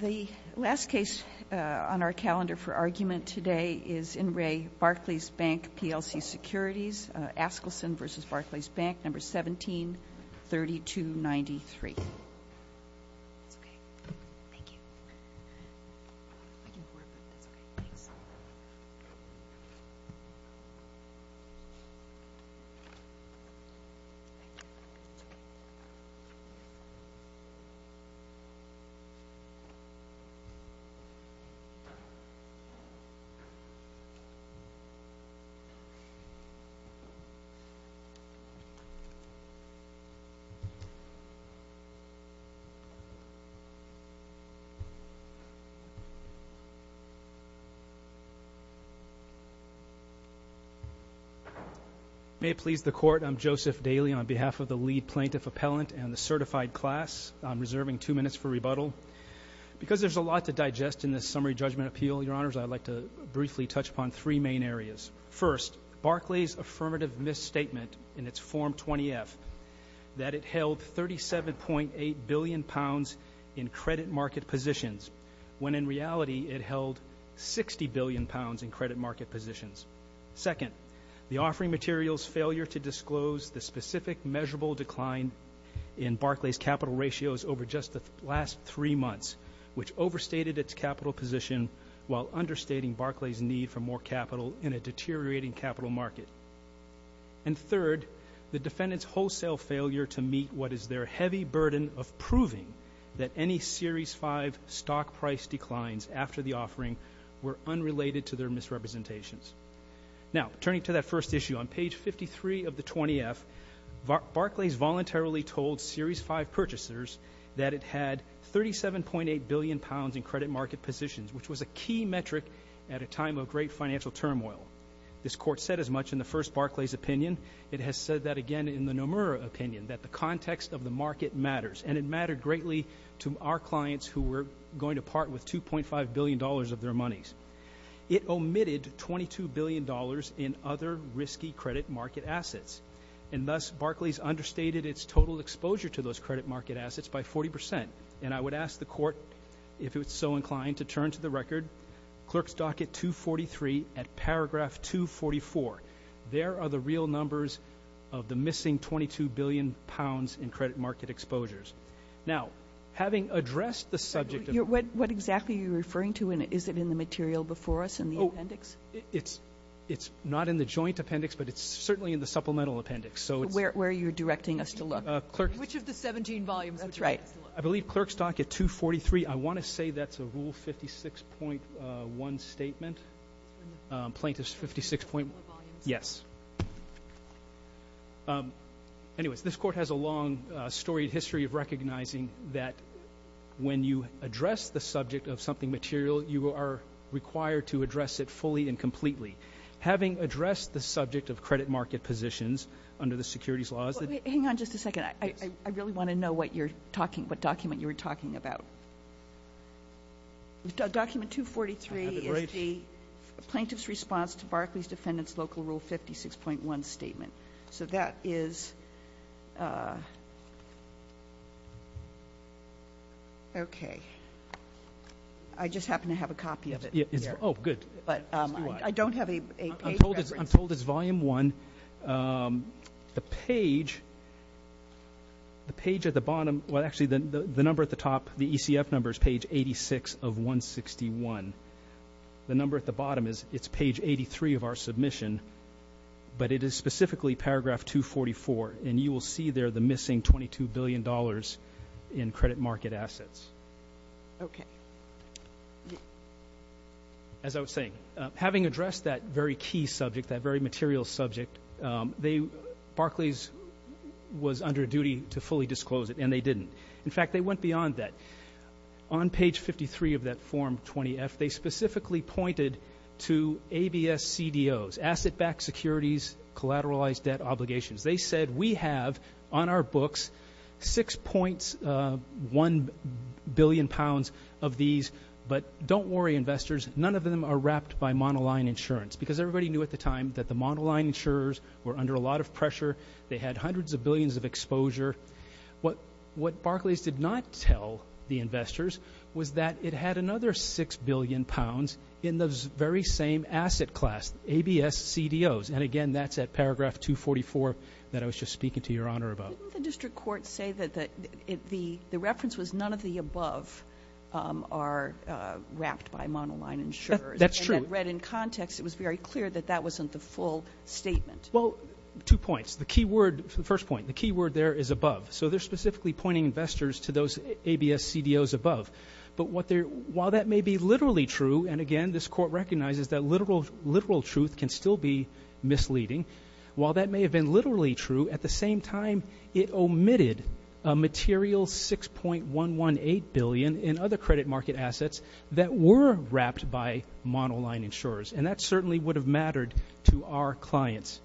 The last case on our calendar for argument today is in Re Barclays Bank PLC Securities, Askelson v. Barclays Bank, number 173293. May it please the Court, I'm Joseph Daly on behalf of the Lead Plaintiff Appellant and the certified class. I'm reserving two minutes for rebuttal. Because there's a lot to digest in this Summary Judgment Appeal, Your Honors, I'd like to briefly touch upon three main areas. First, Barclays' affirmative misstatement in its Form 20-F that it held 37.8 billion pounds in credit market positions, when in reality it held 60 billion pounds in credit market positions. Second, the offering material's failure to disclose the specific measurable decline in Barclays' capital ratios over just the last three months, which overstated its capital position while understating Barclays' need for more capital in a deteriorating capital market. And third, the defendant's wholesale failure to meet what is their heavy burden of proving that any Series 5 stock price declines after the offering were unrelated to their misrepresentations. Now, turning to that first issue, on page 53 of the 20-F, Barclays voluntarily told Series 5 purchasers that it had 37.8 billion pounds in credit market positions, which was a key metric at a time of great financial turmoil. This Court said as much in the first Barclays' opinion. It has said that again in the Nomura opinion, that the context of the market matters, and it mattered greatly to our clients who were going to part with $2.5 billion of their monies. It omitted $22 billion in other risky credit market assets, and thus Barclays understated its total exposure to those credit market assets by 40 percent. And I would ask the Court, if it's so inclined, to turn to the record, Clerk's Docket 243 at paragraph 244. There are the real numbers of the missing 22 billion pounds in credit market exposures. Now, having addressed the subject of— What exactly are you referring to? Is it in the material before us in the appendix? It's not in the joint appendix, but it's certainly in the supplemental appendix. Where are you directing us to look? Which of the 17 volumes are you directing us to look at? I believe Clerk's Docket 243. I want to say that's a Rule 56.1 statement, Plaintiff's 56.1, yes. Anyways, this Court has a long storied history of recognizing that when you address the subject of something material, you are required to address it fully and completely. Having addressed the subject of credit market positions under the securities laws— Hang on just a second. I really want to know what document you were talking about. Document 243 is the Plaintiff's Response to Barclays Defendant's Local Rule 56.1 Statement. So that is— Okay. I just happen to have a copy of it here. Oh, good. I don't have a page reference. I'm told it's Volume 1. The page at the bottom—well, actually, the number at the top, the ECF number is page 86 of 161. The number at the bottom is—it's page 83 of our submission, but it is specifically paragraph 244. And you will see there the missing $22 billion in credit market assets. Okay. As I was saying, having addressed that very key subject, that very material subject, Barclays was under duty to fully disclose it, and they didn't. In fact, they went beyond that. On page 53 of that Form 20-F, they specifically pointed to ABS-CDOs, asset-backed securities collateralized debt obligations. They said, we have on our books 6.1 billion pounds of these, but don't worry, investors. None of them are wrapped by monoline insurance, because everybody knew at the time that the monoline insurers were under a lot of pressure. They had hundreds of billions of exposure. What Barclays did not tell the investors was that it had another 6 billion pounds in those very same asset class, ABS-CDOs. And, again, that's at paragraph 244 that I was just speaking to Your Honor about. Didn't the district court say that the reference was none of the above are wrapped by monoline insurers? That's true. And read in context, it was very clear that that wasn't the full statement. Well, two points. The key word, the first point, the key word there is above. So they're specifically pointing investors to those ABS-CDOs above. But while that may be literally true, and, again, this court recognizes that literal truth can still be misleading, while that may have been literally true, at the same time, it omitted a material 6.118 billion in other credit market assets that were wrapped by monoline insurers. And that certainly would have mattered to our clients.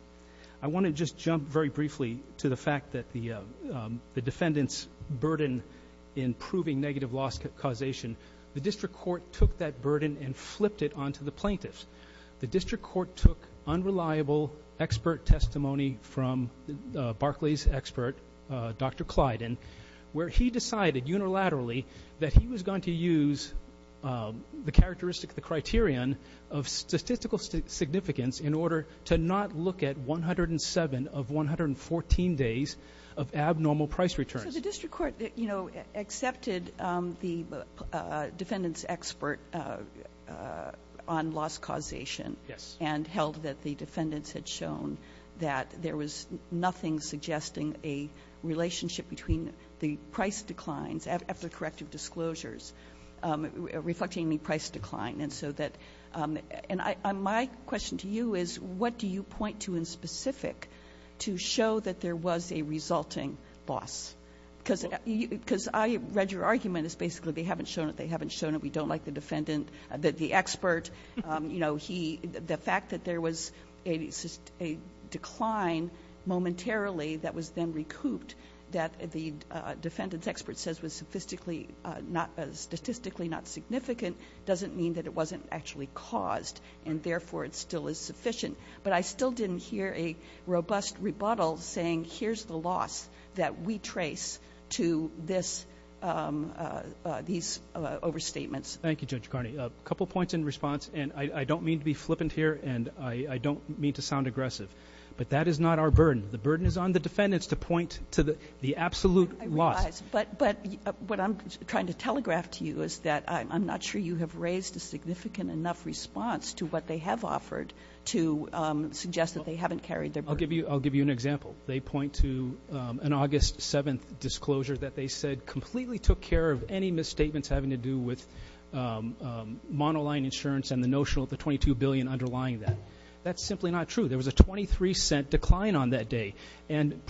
I want to just jump very briefly to the fact that the defendant's burden in proving negative loss causation, the district court took that burden and flipped it onto the plaintiffs. The district court took unreliable expert testimony from Barclays' expert, Dr. Clyden, where he decided unilaterally that he was going to use the characteristic of the criterion of statistical significance in order to not look at 107 of 114 days of abnormal price returns. So the district court, you know, accepted the defendant's expert on loss causation. Yes. And held that the defendants had shown that there was nothing suggesting a relationship between the price declines, after corrective disclosures, reflecting the price decline. And so that my question to you is, what do you point to in specific to show that there was a resulting loss? Because I read your argument as basically they haven't shown it, they haven't shown it, we don't like the defendant, that the expert, you know, the fact that there was a decline momentarily that was then recouped, that the defendant's expert says was statistically not significant doesn't mean that it wasn't actually caused, and therefore it still is sufficient. But I still didn't hear a robust rebuttal saying here's the loss that we trace to these overstatements. Thank you, Judge Carney. A couple points in response, and I don't mean to be flippant here, and I don't mean to sound aggressive, but that is not our burden. The burden is on the defendants to point to the absolute loss. But what I'm trying to telegraph to you is that I'm not sure you have raised a significant enough response to what they have offered to suggest that they haven't carried their burden. I'll give you an example. They point to an August 7th disclosure that they said completely took care of any misstatements having to do with monoline insurance and the notion of the $22 billion underlying that. That's simply not true. There was a $0.23 decline on that day, and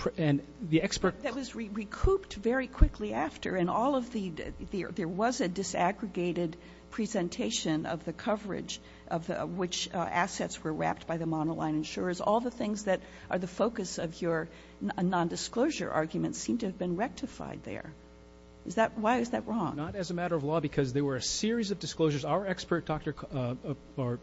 the expert ---- That was recouped very quickly after, and all of the ---- there was a disaggregated presentation of the coverage of which assets were wrapped by the monoline insurers. All the things that are the focus of your nondisclosure argument seem to have been rectified there. Why is that wrong? Not as a matter of law, because there were a series of disclosures. Our expert,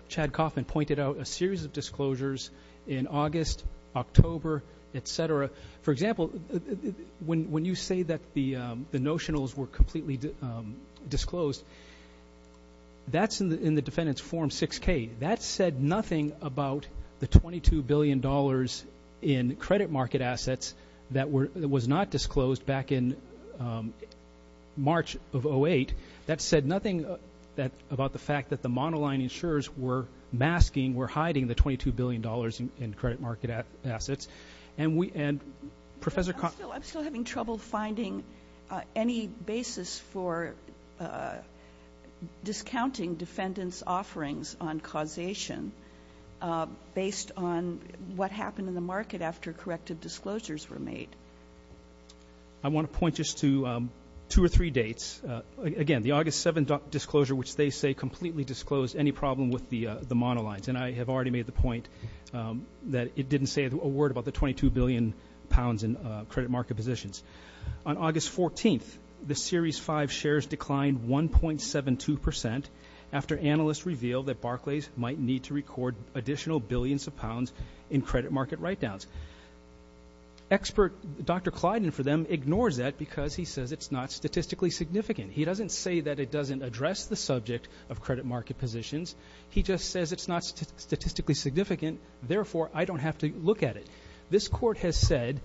Chad Kaufman, pointed out a series of disclosures in August, October, et cetera. For example, when you say that the notionals were completely disclosed, that's in the defendant's form 6K. That said nothing about the $22 billion in credit market assets that was not disclosed back in March of 08. That said nothing about the fact that the monoline insurers were masking, were hiding the $22 billion in credit market assets. And we ---- I'm still having trouble finding any basis for discounting defendants' offerings on causation based on what happened in the market after corrective disclosures were made. I want to point just to two or three dates. Again, the August 7th disclosure, which they say completely disclosed any problem with the monolines. And I have already made the point that it didn't say a word about the $22 billion in credit market positions. On August 14th, the Series 5 shares declined 1.72 percent after analysts revealed that Barclays might need to record additional billions of pounds in credit market write-downs. Expert Dr. Clyden for them ignores that because he says it's not statistically significant. He doesn't say that it doesn't address the subject of credit market positions. He just says it's not statistically significant, therefore I don't have to look at it. This Court has said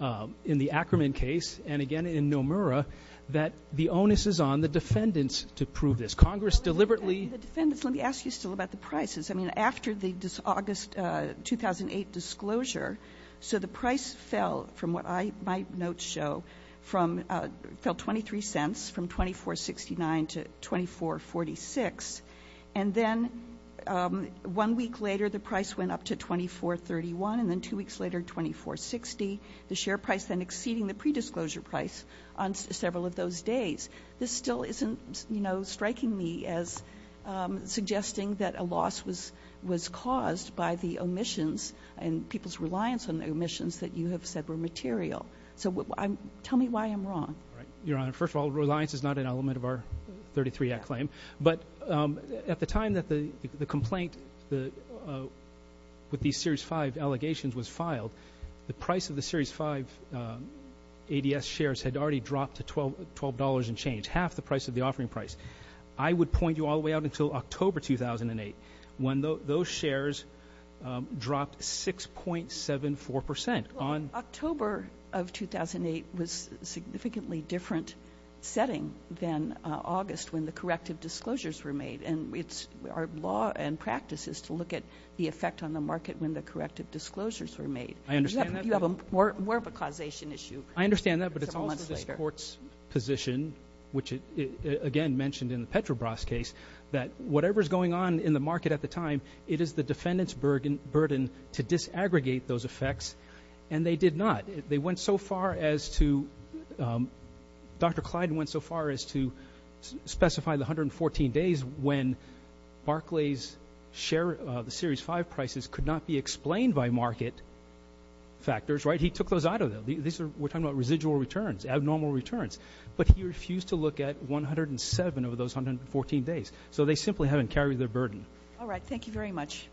in the Ackerman case and again in Nomura that the onus is on the defendants to prove this. Congress deliberately ---- The defendants, let me ask you still about the prices. I mean, after the August 2008 disclosure, so the price fell from what my notes show, fell 23 cents from $24.69 to $24.46, and then one week later the price went up to $24.31, and then two weeks later $24.60, the share price then exceeding the predisclosure price on several of those days. This still isn't, you know, striking me as suggesting that a loss was caused by the omissions and people's reliance on the omissions that you have said were material. So tell me why I'm wrong. Your Honor, first of all, reliance is not an element of our 33 Act claim. But at the time that the complaint with these Series 5 allegations was filed, the price of the Series 5 ADS shares had already dropped to $12 and change, half the price of the offering price. I would point you all the way out until October 2008 when those shares dropped 6.74 percent on ---- October of 2008 was a significantly different setting than August when the corrective disclosures were made. Our law and practice is to look at the effect on the market when the corrective disclosures were made. I understand that. You have more of a causation issue. I understand that, but it's also this Court's position, which again mentioned in the Petrobras case, that whatever is going on in the market at the time, it is the defendant's burden to disaggregate those effects, and they did not. They went so far as to ---- Dr. Clyde went so far as to specify the 114 days when Barclays' share of the Series 5 prices could not be explained by market factors. Right? He took those out of them. We're talking about residual returns, abnormal returns. But he refused to look at 107 of those 114 days. So they simply haven't carried their burden. All right. Thank you very much.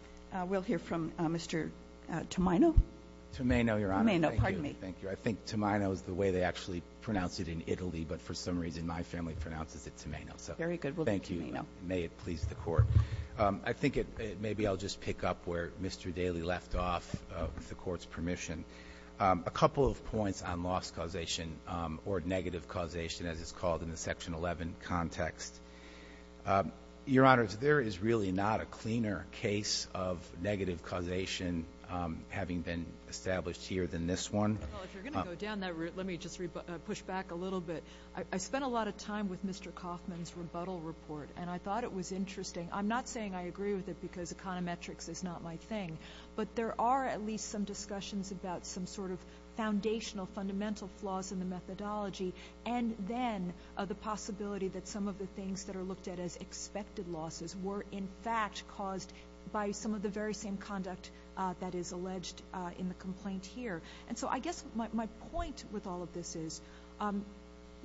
We'll hear from Mr. Tomeno. Tomeno, Your Honor. Tomeno, pardon me. Thank you. I think Tomeno is the way they actually pronounce it in Italy, but for some reason my family pronounces it Tomeno. Very good. We'll go to Tomeno. May it please the Court. I think maybe I'll just pick up where Mr. Daly left off with the Court's permission. A couple of points on loss causation or negative causation, as it's called in the Section 11 context. Your Honor, there is really not a cleaner case of negative causation having been established here than this one. Well, if you're going to go down that route, let me just push back a little bit. I spent a lot of time with Mr. Kaufman's rebuttal report, and I thought it was interesting. I'm not saying I agree with it because econometrics is not my thing, but there are at least some discussions about some sort of foundational, fundamental flaws in the methodology and then the possibility that some of the things that are looked at as expected losses were, in fact, caused by some of the very same conduct that is alleged in the complaint here. And so I guess my point with all of this is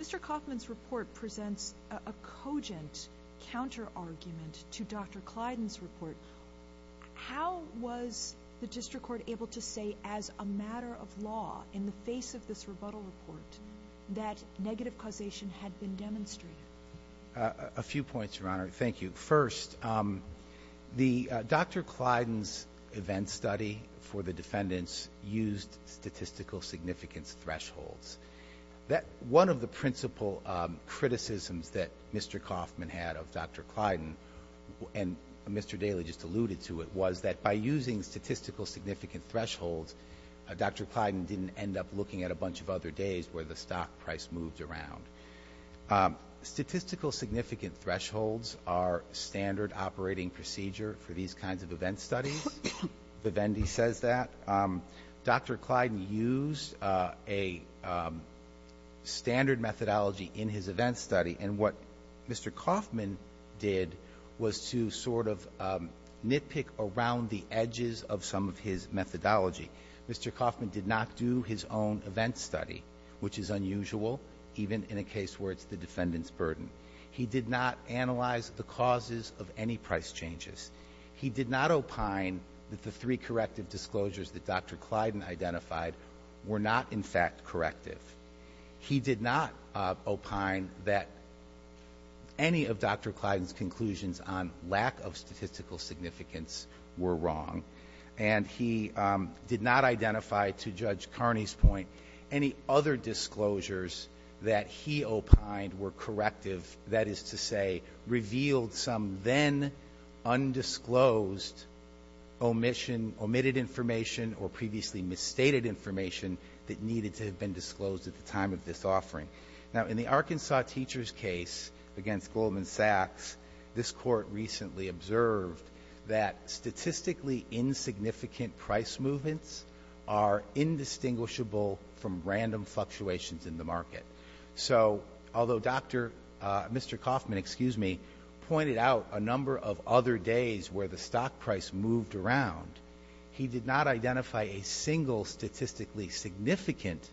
Mr. Kaufman's report presents a cogent counterargument to Dr. Clyden's report. How was the district court able to say as a matter of law, in the face of this rebuttal report, that negative causation had been demonstrated? A few points, Your Honor. Thank you. First, Dr. Clyden's event study for the defendants used statistical significance thresholds. One of the principal criticisms that Mr. Kaufman had of Dr. Clyden, and Mr. Daley just alluded to it, was that by using statistical significant thresholds, Dr. Clyden didn't end up looking at a bunch of other days where the stock price moved around. Statistical significant thresholds are standard operating procedure for these kinds of event studies. Vivendi says that. Dr. Clyden used a standard methodology in his event study, and what Mr. Kaufman did was to sort of nitpick around the edges of some of his methodology. Mr. Kaufman did not do his own event study, which is unusual, even in a case where it's the defendant's burden. He did not analyze the causes of any price changes. He did not opine that the three corrective disclosures that Dr. Clyden identified were not, in fact, corrective. He did not opine that any of Dr. Clyden's conclusions on lack of statistical significance were wrong. And he did not identify, to Judge Carney's point, any other disclosures that he opined were corrective, that is to say, revealed some then undisclosed omission, omitted information, or previously misstated information that needed to have been disclosed at the time of this offering. Now, in the Arkansas teacher's case against Goldman Sachs, this Court recently observed that statistically insignificant price movements are indistinguishable from random fluctuations in the market. So although Dr. — Mr. Kaufman, excuse me, pointed out a number of other days where the stock price moved around, he did not identify a single statistically significant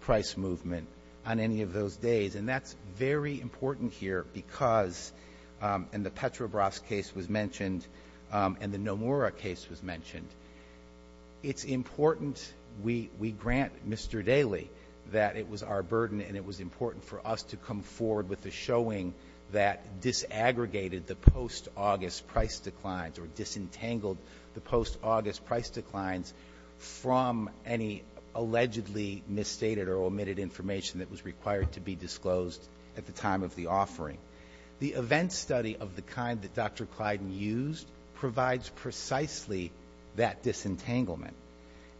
price movement on any of those days. And that's very important here because — and the Petrobras case was mentioned and the Nomura case was mentioned. It's important — we grant Mr. Daley that it was our burden and it was important for us to come forward with a showing that disaggregated the post-August price declines or disentangled the post-August price declines from any allegedly misstated or omitted information that was required to be disclosed at the time of the offering. The event study of the kind that Dr. Clyden used provides precisely that disentanglement.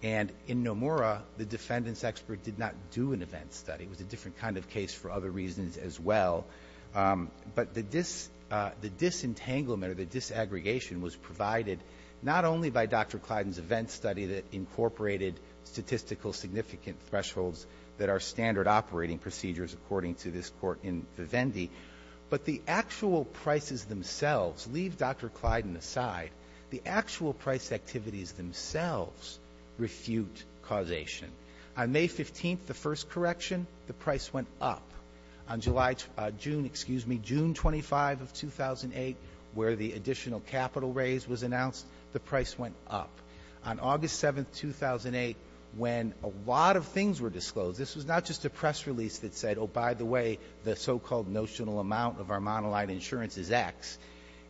And in Nomura, the defendant's expert did not do an event study. It was a different kind of case for other reasons as well. But the disentanglement or the disaggregation was provided not only by Dr. Clyden's event study that incorporated statistical significant thresholds that are standard operating procedures, according to this court in Vivendi, but the actual prices themselves. Leave Dr. Clyden aside. The actual price activities themselves refute causation. On May 15th, the first correction, the price went up. On July — June, excuse me, June 25 of 2008, where the additional capital raise was announced, the price went up. On August 7th, 2008, when a lot of things were disclosed, this was not just a press release that said, oh, by the way, the so-called notional amount of our monolithic insurance is X.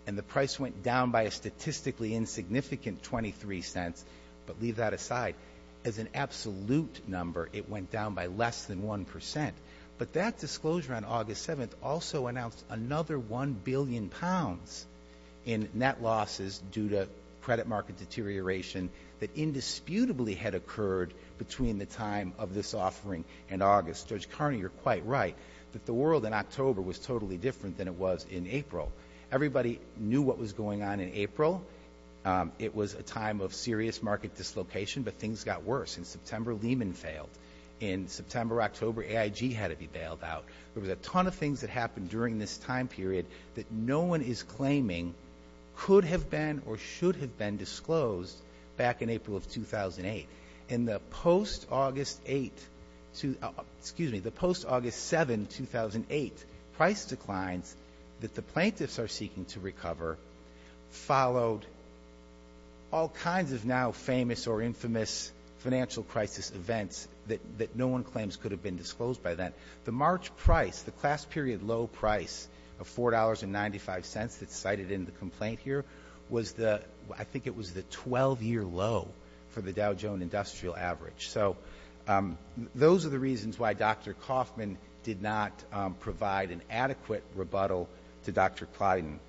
And the price went down by a statistically insignificant 23 cents. But leave that aside. As an absolute number, it went down by less than 1%. But that disclosure on August 7th also announced another 1 billion pounds in net losses due to credit market deterioration that indisputably had occurred between the time of this offering and August. Judge Carney, you're quite right that the world in October was totally different than it was in April. Everybody knew what was going on in April. It was a time of serious market dislocation, but things got worse. In September, Lehman failed. In September, October, AIG had to be bailed out. There was a ton of things that happened during this time period that no one is claiming could have been or should have been disclosed back in April of 2008. In the post-August 8th — excuse me, the post-August 7th, 2008, price declines that the plaintiffs are seeking to recover followed all kinds of now famous or infamous financial crisis events that no one claims could have been disclosed by then. The March price, the class period low price of $4.95 that's cited in the complaint here, was the — I think it was the 12-year low for the Dow Jones Industrial Average. So those are the reasons why Dr. Kaufman did not provide an adequate rebuttal to Dr. Clayton.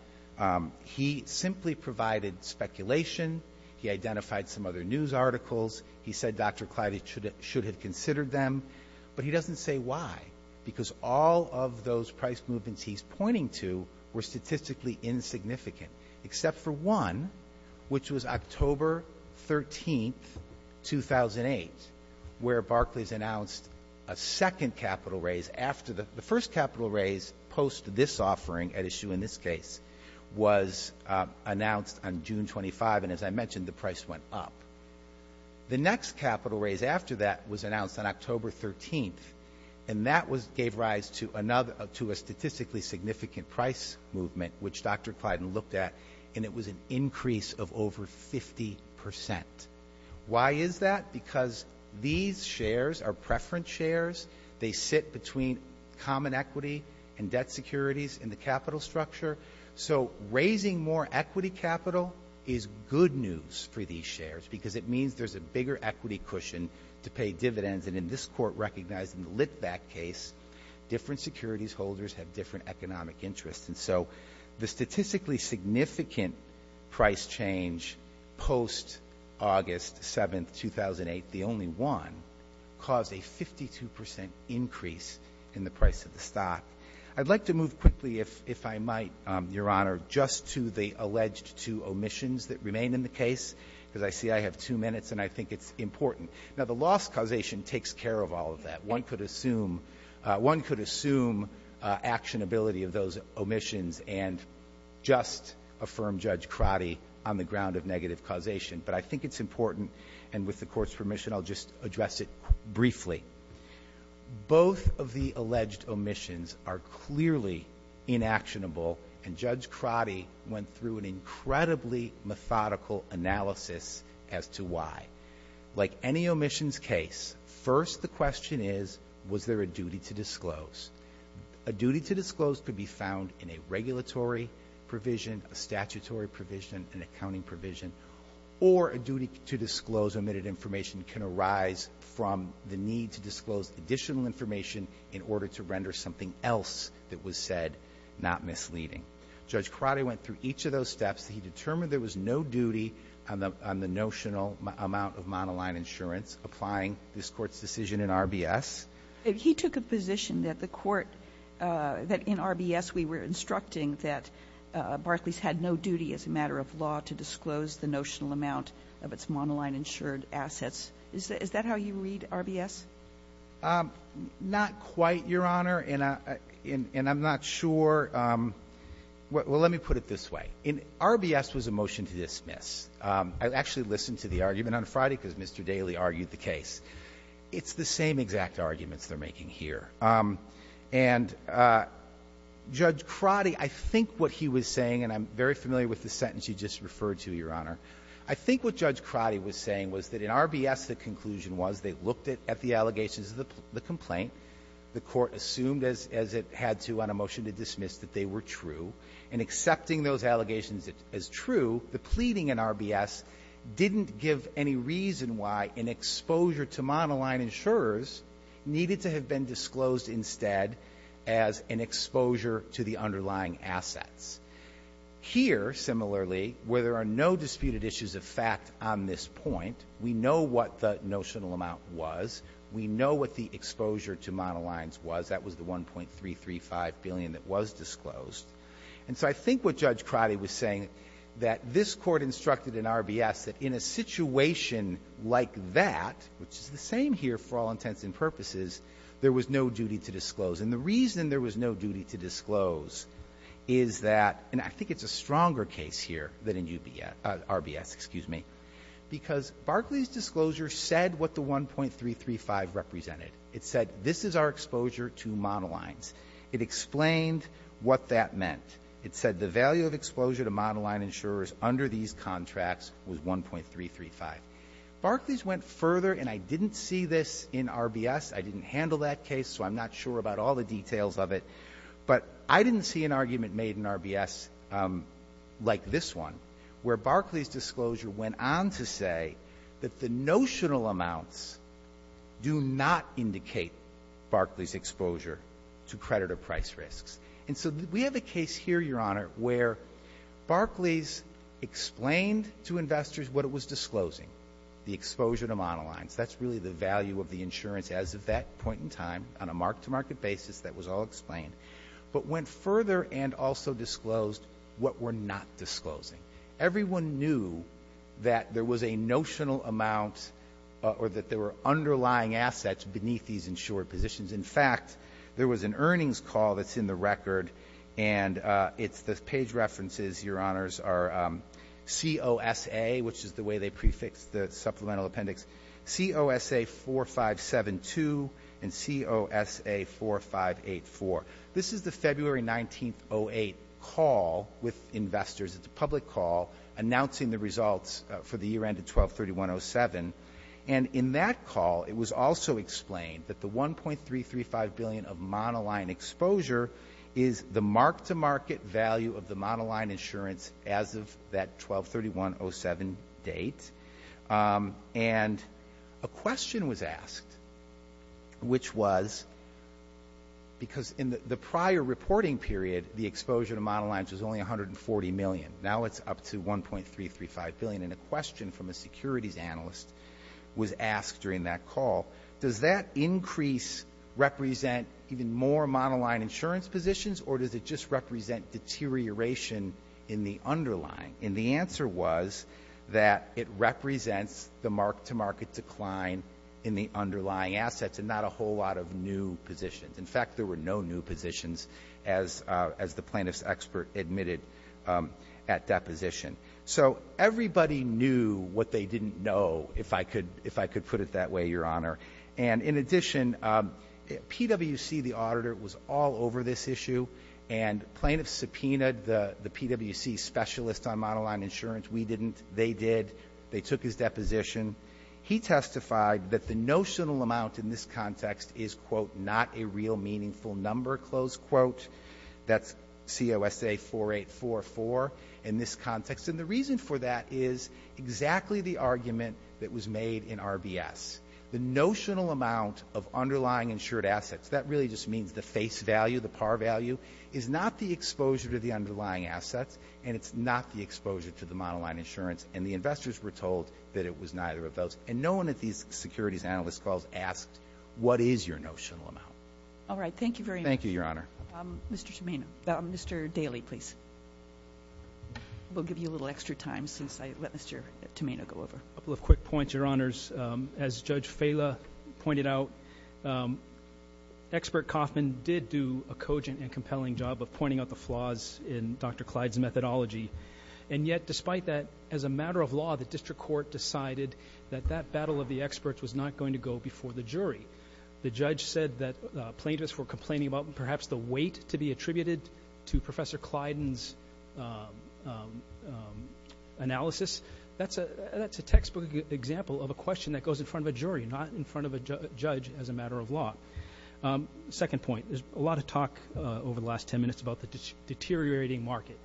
He simply provided speculation. He identified some other news articles. He said Dr. Clayton should have considered them. But he doesn't say why because all of those price movements he's pointing to were statistically insignificant, except for one, which was October 13th, 2008, where Barclays announced a second capital raise after the — the first capital raise post this offering at issue in this case was announced on June 25th, and as I mentioned, the price went up. The next capital raise after that was announced on October 13th, and that gave rise to a statistically significant price movement, which Dr. Clayton looked at, and it was an increase of over 50 percent. Why is that? Because these shares are preference shares. They sit between common equity and debt securities in the capital structure. So raising more equity capital is good news for these shares because it means there's a bigger equity cushion to pay dividends, and in this Court recognized in the Litvak case, different securities holders have different economic interests. And so the statistically significant price change post-August 7th, 2008, the only one, caused a 52 percent increase in the price of the stock. I'd like to move quickly, if I might, Your Honor, just to the alleged two omissions that remain in the case because I see I have two minutes and I think it's important. Now, the loss causation takes care of all of that. One could assume one could assume actionability of those omissions and just affirm Judge Crotty on the ground of negative causation. But I think it's important, and with the Court's permission, I'll just address it briefly. Both of the alleged omissions are clearly inactionable, and Judge Crotty went through an incredibly methodical analysis as to why. Like any omissions case, first the question is, was there a duty to disclose? A duty to disclose could be found in a regulatory provision, a statutory provision, an accounting provision, or a duty to disclose omitted information can arise from the need to disclose additional information in order to render something else that was said not misleading. Judge Crotty went through each of those steps. He determined there was no duty on the notional amount of monoline insurance applying this Court's decision in RBS. He took a position that the Court, that in RBS we were instructing that Barclays had no duty as a matter of law to disclose the notional amount of its monoline-insured assets. Is that how you read RBS? Not quite, Your Honor, and I'm not sure. Well, let me put it this way. In RBS was a motion to dismiss. I actually listened to the argument on Friday because Mr. Daley argued the case. It's the same exact arguments they're making here. And Judge Crotty, I think what he was saying, and I'm very familiar with the sentence you just referred to, Your Honor. I think what Judge Crotty was saying was that in RBS the conclusion was they looked at the allegations of the complaint. The Court assumed, as it had to on a motion to dismiss, that they were true. And accepting those allegations as true, the pleading in RBS didn't give any reason why an exposure to monoline insurers needed to have been disclosed instead as an exposure to the underlying assets. Here, similarly, where there are no disputed issues of fact on this point, we know what the notional amount was. We know what the exposure to monolines was. That was the $1.335 billion that was disclosed. And so I think what Judge Crotty was saying that this Court instructed in RBS that in a situation like that, which is the same here for all intents and purposes, there was no duty to disclose. And the reason there was no duty to disclose is that, and I think it's a stronger case here than in RBS, excuse me, because Barkley's disclosure said what the $1.335 represented. It said this is our exposure to monolines. It explained what that meant. It said the value of exposure to monoline insurers under these contracts was $1.335. Barkley's went further, and I didn't see this in RBS. I didn't handle that case, so I'm not sure about all the details of it. But I didn't see an argument made in RBS like this one, where Barkley's disclosure went on to say that the notional amounts do not indicate Barkley's exposure to credit or price risks. And so we have a case here, Your Honor, where Barkley's explained to investors what it was disclosing, the exposure to monolines. That's really the value of the insurance as of that point in time on a mark-to-market basis that was all explained, but went further and also disclosed what we're not disclosing. Everyone knew that there was a notional amount or that there were underlying assets beneath these insured positions. In fact, there was an earnings call that's in the record, and the page references, Your Honors, are COSA, which is the way they prefix the supplemental appendix, COSA 4572 and COSA 4584. This is the February 19, 08 call with investors. It's a public call announcing the results for the year ended 12-31-07. And in that call, it was also explained that the $1.335 billion of monoline exposure is the mark-to-market value of the monoline insurance as of that 12-31-07 date. And a question was asked, which was, because in the prior reporting period, the exposure to monolines was only $140 million. Now it's up to $1.335 billion. And a question from a securities analyst was asked during that call, does that increase represent even more monoline insurance positions, or does it just represent deterioration in the underlying? And the answer was that it represents the mark-to-market decline in the underlying assets and not a whole lot of new positions. In fact, there were no new positions as the plaintiff's expert admitted at deposition. So everybody knew what they didn't know, if I could put it that way, Your Honor. And in addition, PwC, the auditor, was all over this issue, and plaintiffs subpoenaed the PwC specialists on monoline insurance. We didn't. They did. They took his deposition. He testified that the notional amount in this context is, quote, not a real meaningful number, close quote. That's COSA 4844 in this context. And the reason for that is exactly the argument that was made in RBS. The notional amount of underlying insured assets, that really just means the face value, the par value, is not the exposure to the underlying assets, and it's not the exposure to the monoline insurance. And the investors were told that it was neither of those. And no one at these securities analyst calls asked, what is your notional amount? All right. Thank you very much. Thank you, Your Honor. Mr. Tomeno. Mr. Daley, please. We'll give you a little extra time since I let Mr. Tomeno go over. A couple of quick points, Your Honors. As Judge Fela pointed out, expert Kaufman did do a cogent and compelling job of pointing out the flaws in Dr. Clyde's methodology. And yet, despite that, as a matter of law, the district court decided that that battle of the experts was not going to go before the jury. The judge said that plaintiffs were complaining about perhaps the weight to be attributed to Professor Clyde's analysis. That's a textbook example of a question that goes in front of a jury, not in front of a judge as a matter of law. Second point, there's a lot of talk over the last ten minutes about the deteriorating market.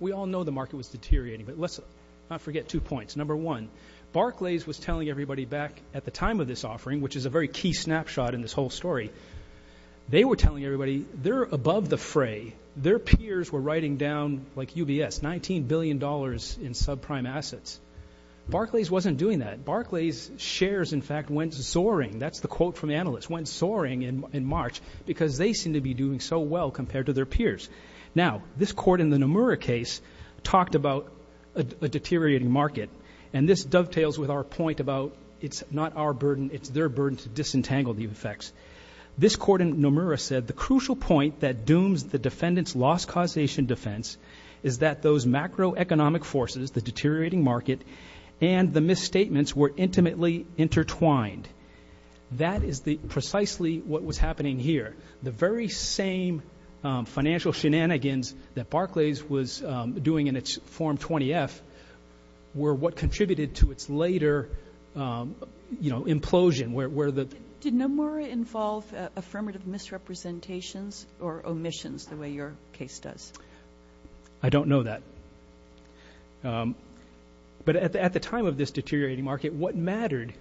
We all know the market was deteriorating, but let's not forget two points. Number one, Barclays was telling everybody back at the time of this offering, which is a very key snapshot in this whole story, they were telling everybody they're above the fray. Their peers were writing down, like UBS, $19 billion in subprime assets. Barclays wasn't doing that. Barclays shares, in fact, went soaring. That's the quote from the analyst, went soaring in March, because they seem to be doing so well compared to their peers. Now, this court in the Nomura case talked about a deteriorating market, and this dovetails with our point about it's not our burden, it's their burden to disentangle the effects. This court in Nomura said, the crucial point that dooms the defendant's loss causation defense is that those macroeconomic forces, the deteriorating market, and the misstatements were intimately intertwined. That is precisely what was happening here. The very same financial shenanigans that Barclays was doing in its form 20-F were what contributed to its later implosion. Did Nomura involve affirmative misrepresentations or omissions, the way your case does? I don't know that. But at the time of this deteriorating market, what mattered,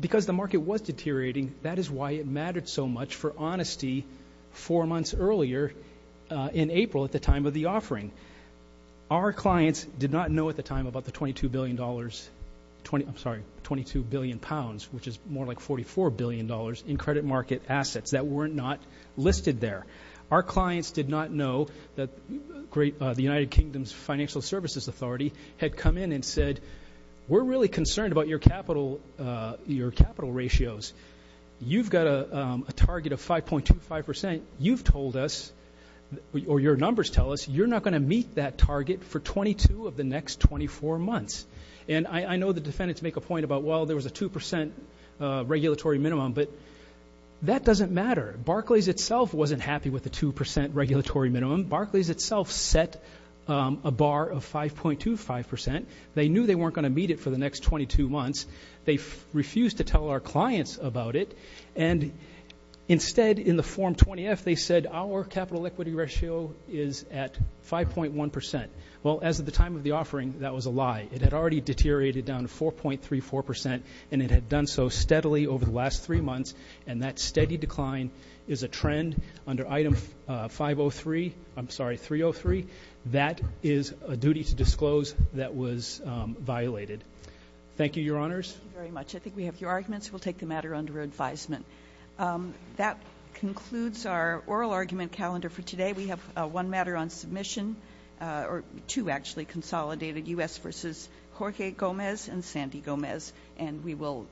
because the market was deteriorating, that is why it mattered so much for honesty four months earlier in April at the time of the offering. Our clients did not know at the time about the $22 billion, I'm sorry, £22 billion, which is more like $44 billion in credit market assets that were not listed there. Our clients did not know that the United Kingdom's Financial Services Authority had come in and said, we're really concerned about your capital ratios. You've got a target of 5.25%. You've told us, or your numbers tell us, you're not going to meet that target for 22 of the next 24 months. And I know the defendants make a point about, well, there was a 2% regulatory minimum, but that doesn't matter. Barclays itself wasn't happy with the 2% regulatory minimum. Barclays itself set a bar of 5.25%. They knew they weren't going to meet it for the next 22 months. They refused to tell our clients about it. And instead, in the Form 20-F, they said, our capital equity ratio is at 5.1%. Well, as of the time of the offering, that was a lie. It had already deteriorated down to 4.34%, and it had done so steadily over the last three months, and that steady decline is a trend under Item 503, I'm sorry, 303. That is a duty to disclose that was violated. Thank you, Your Honors. Thank you very much. I think we have your arguments. We'll take the matter under advisement. That concludes our oral argument calendar for today. We have one matter on submission, or two actually, Consolidated U.S. v. Jorge Gomez and Sandy Gomez, and we will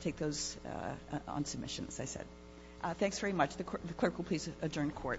take those on submission, as I said. Thanks very much. If the clerk will please adjourn court. Thank you.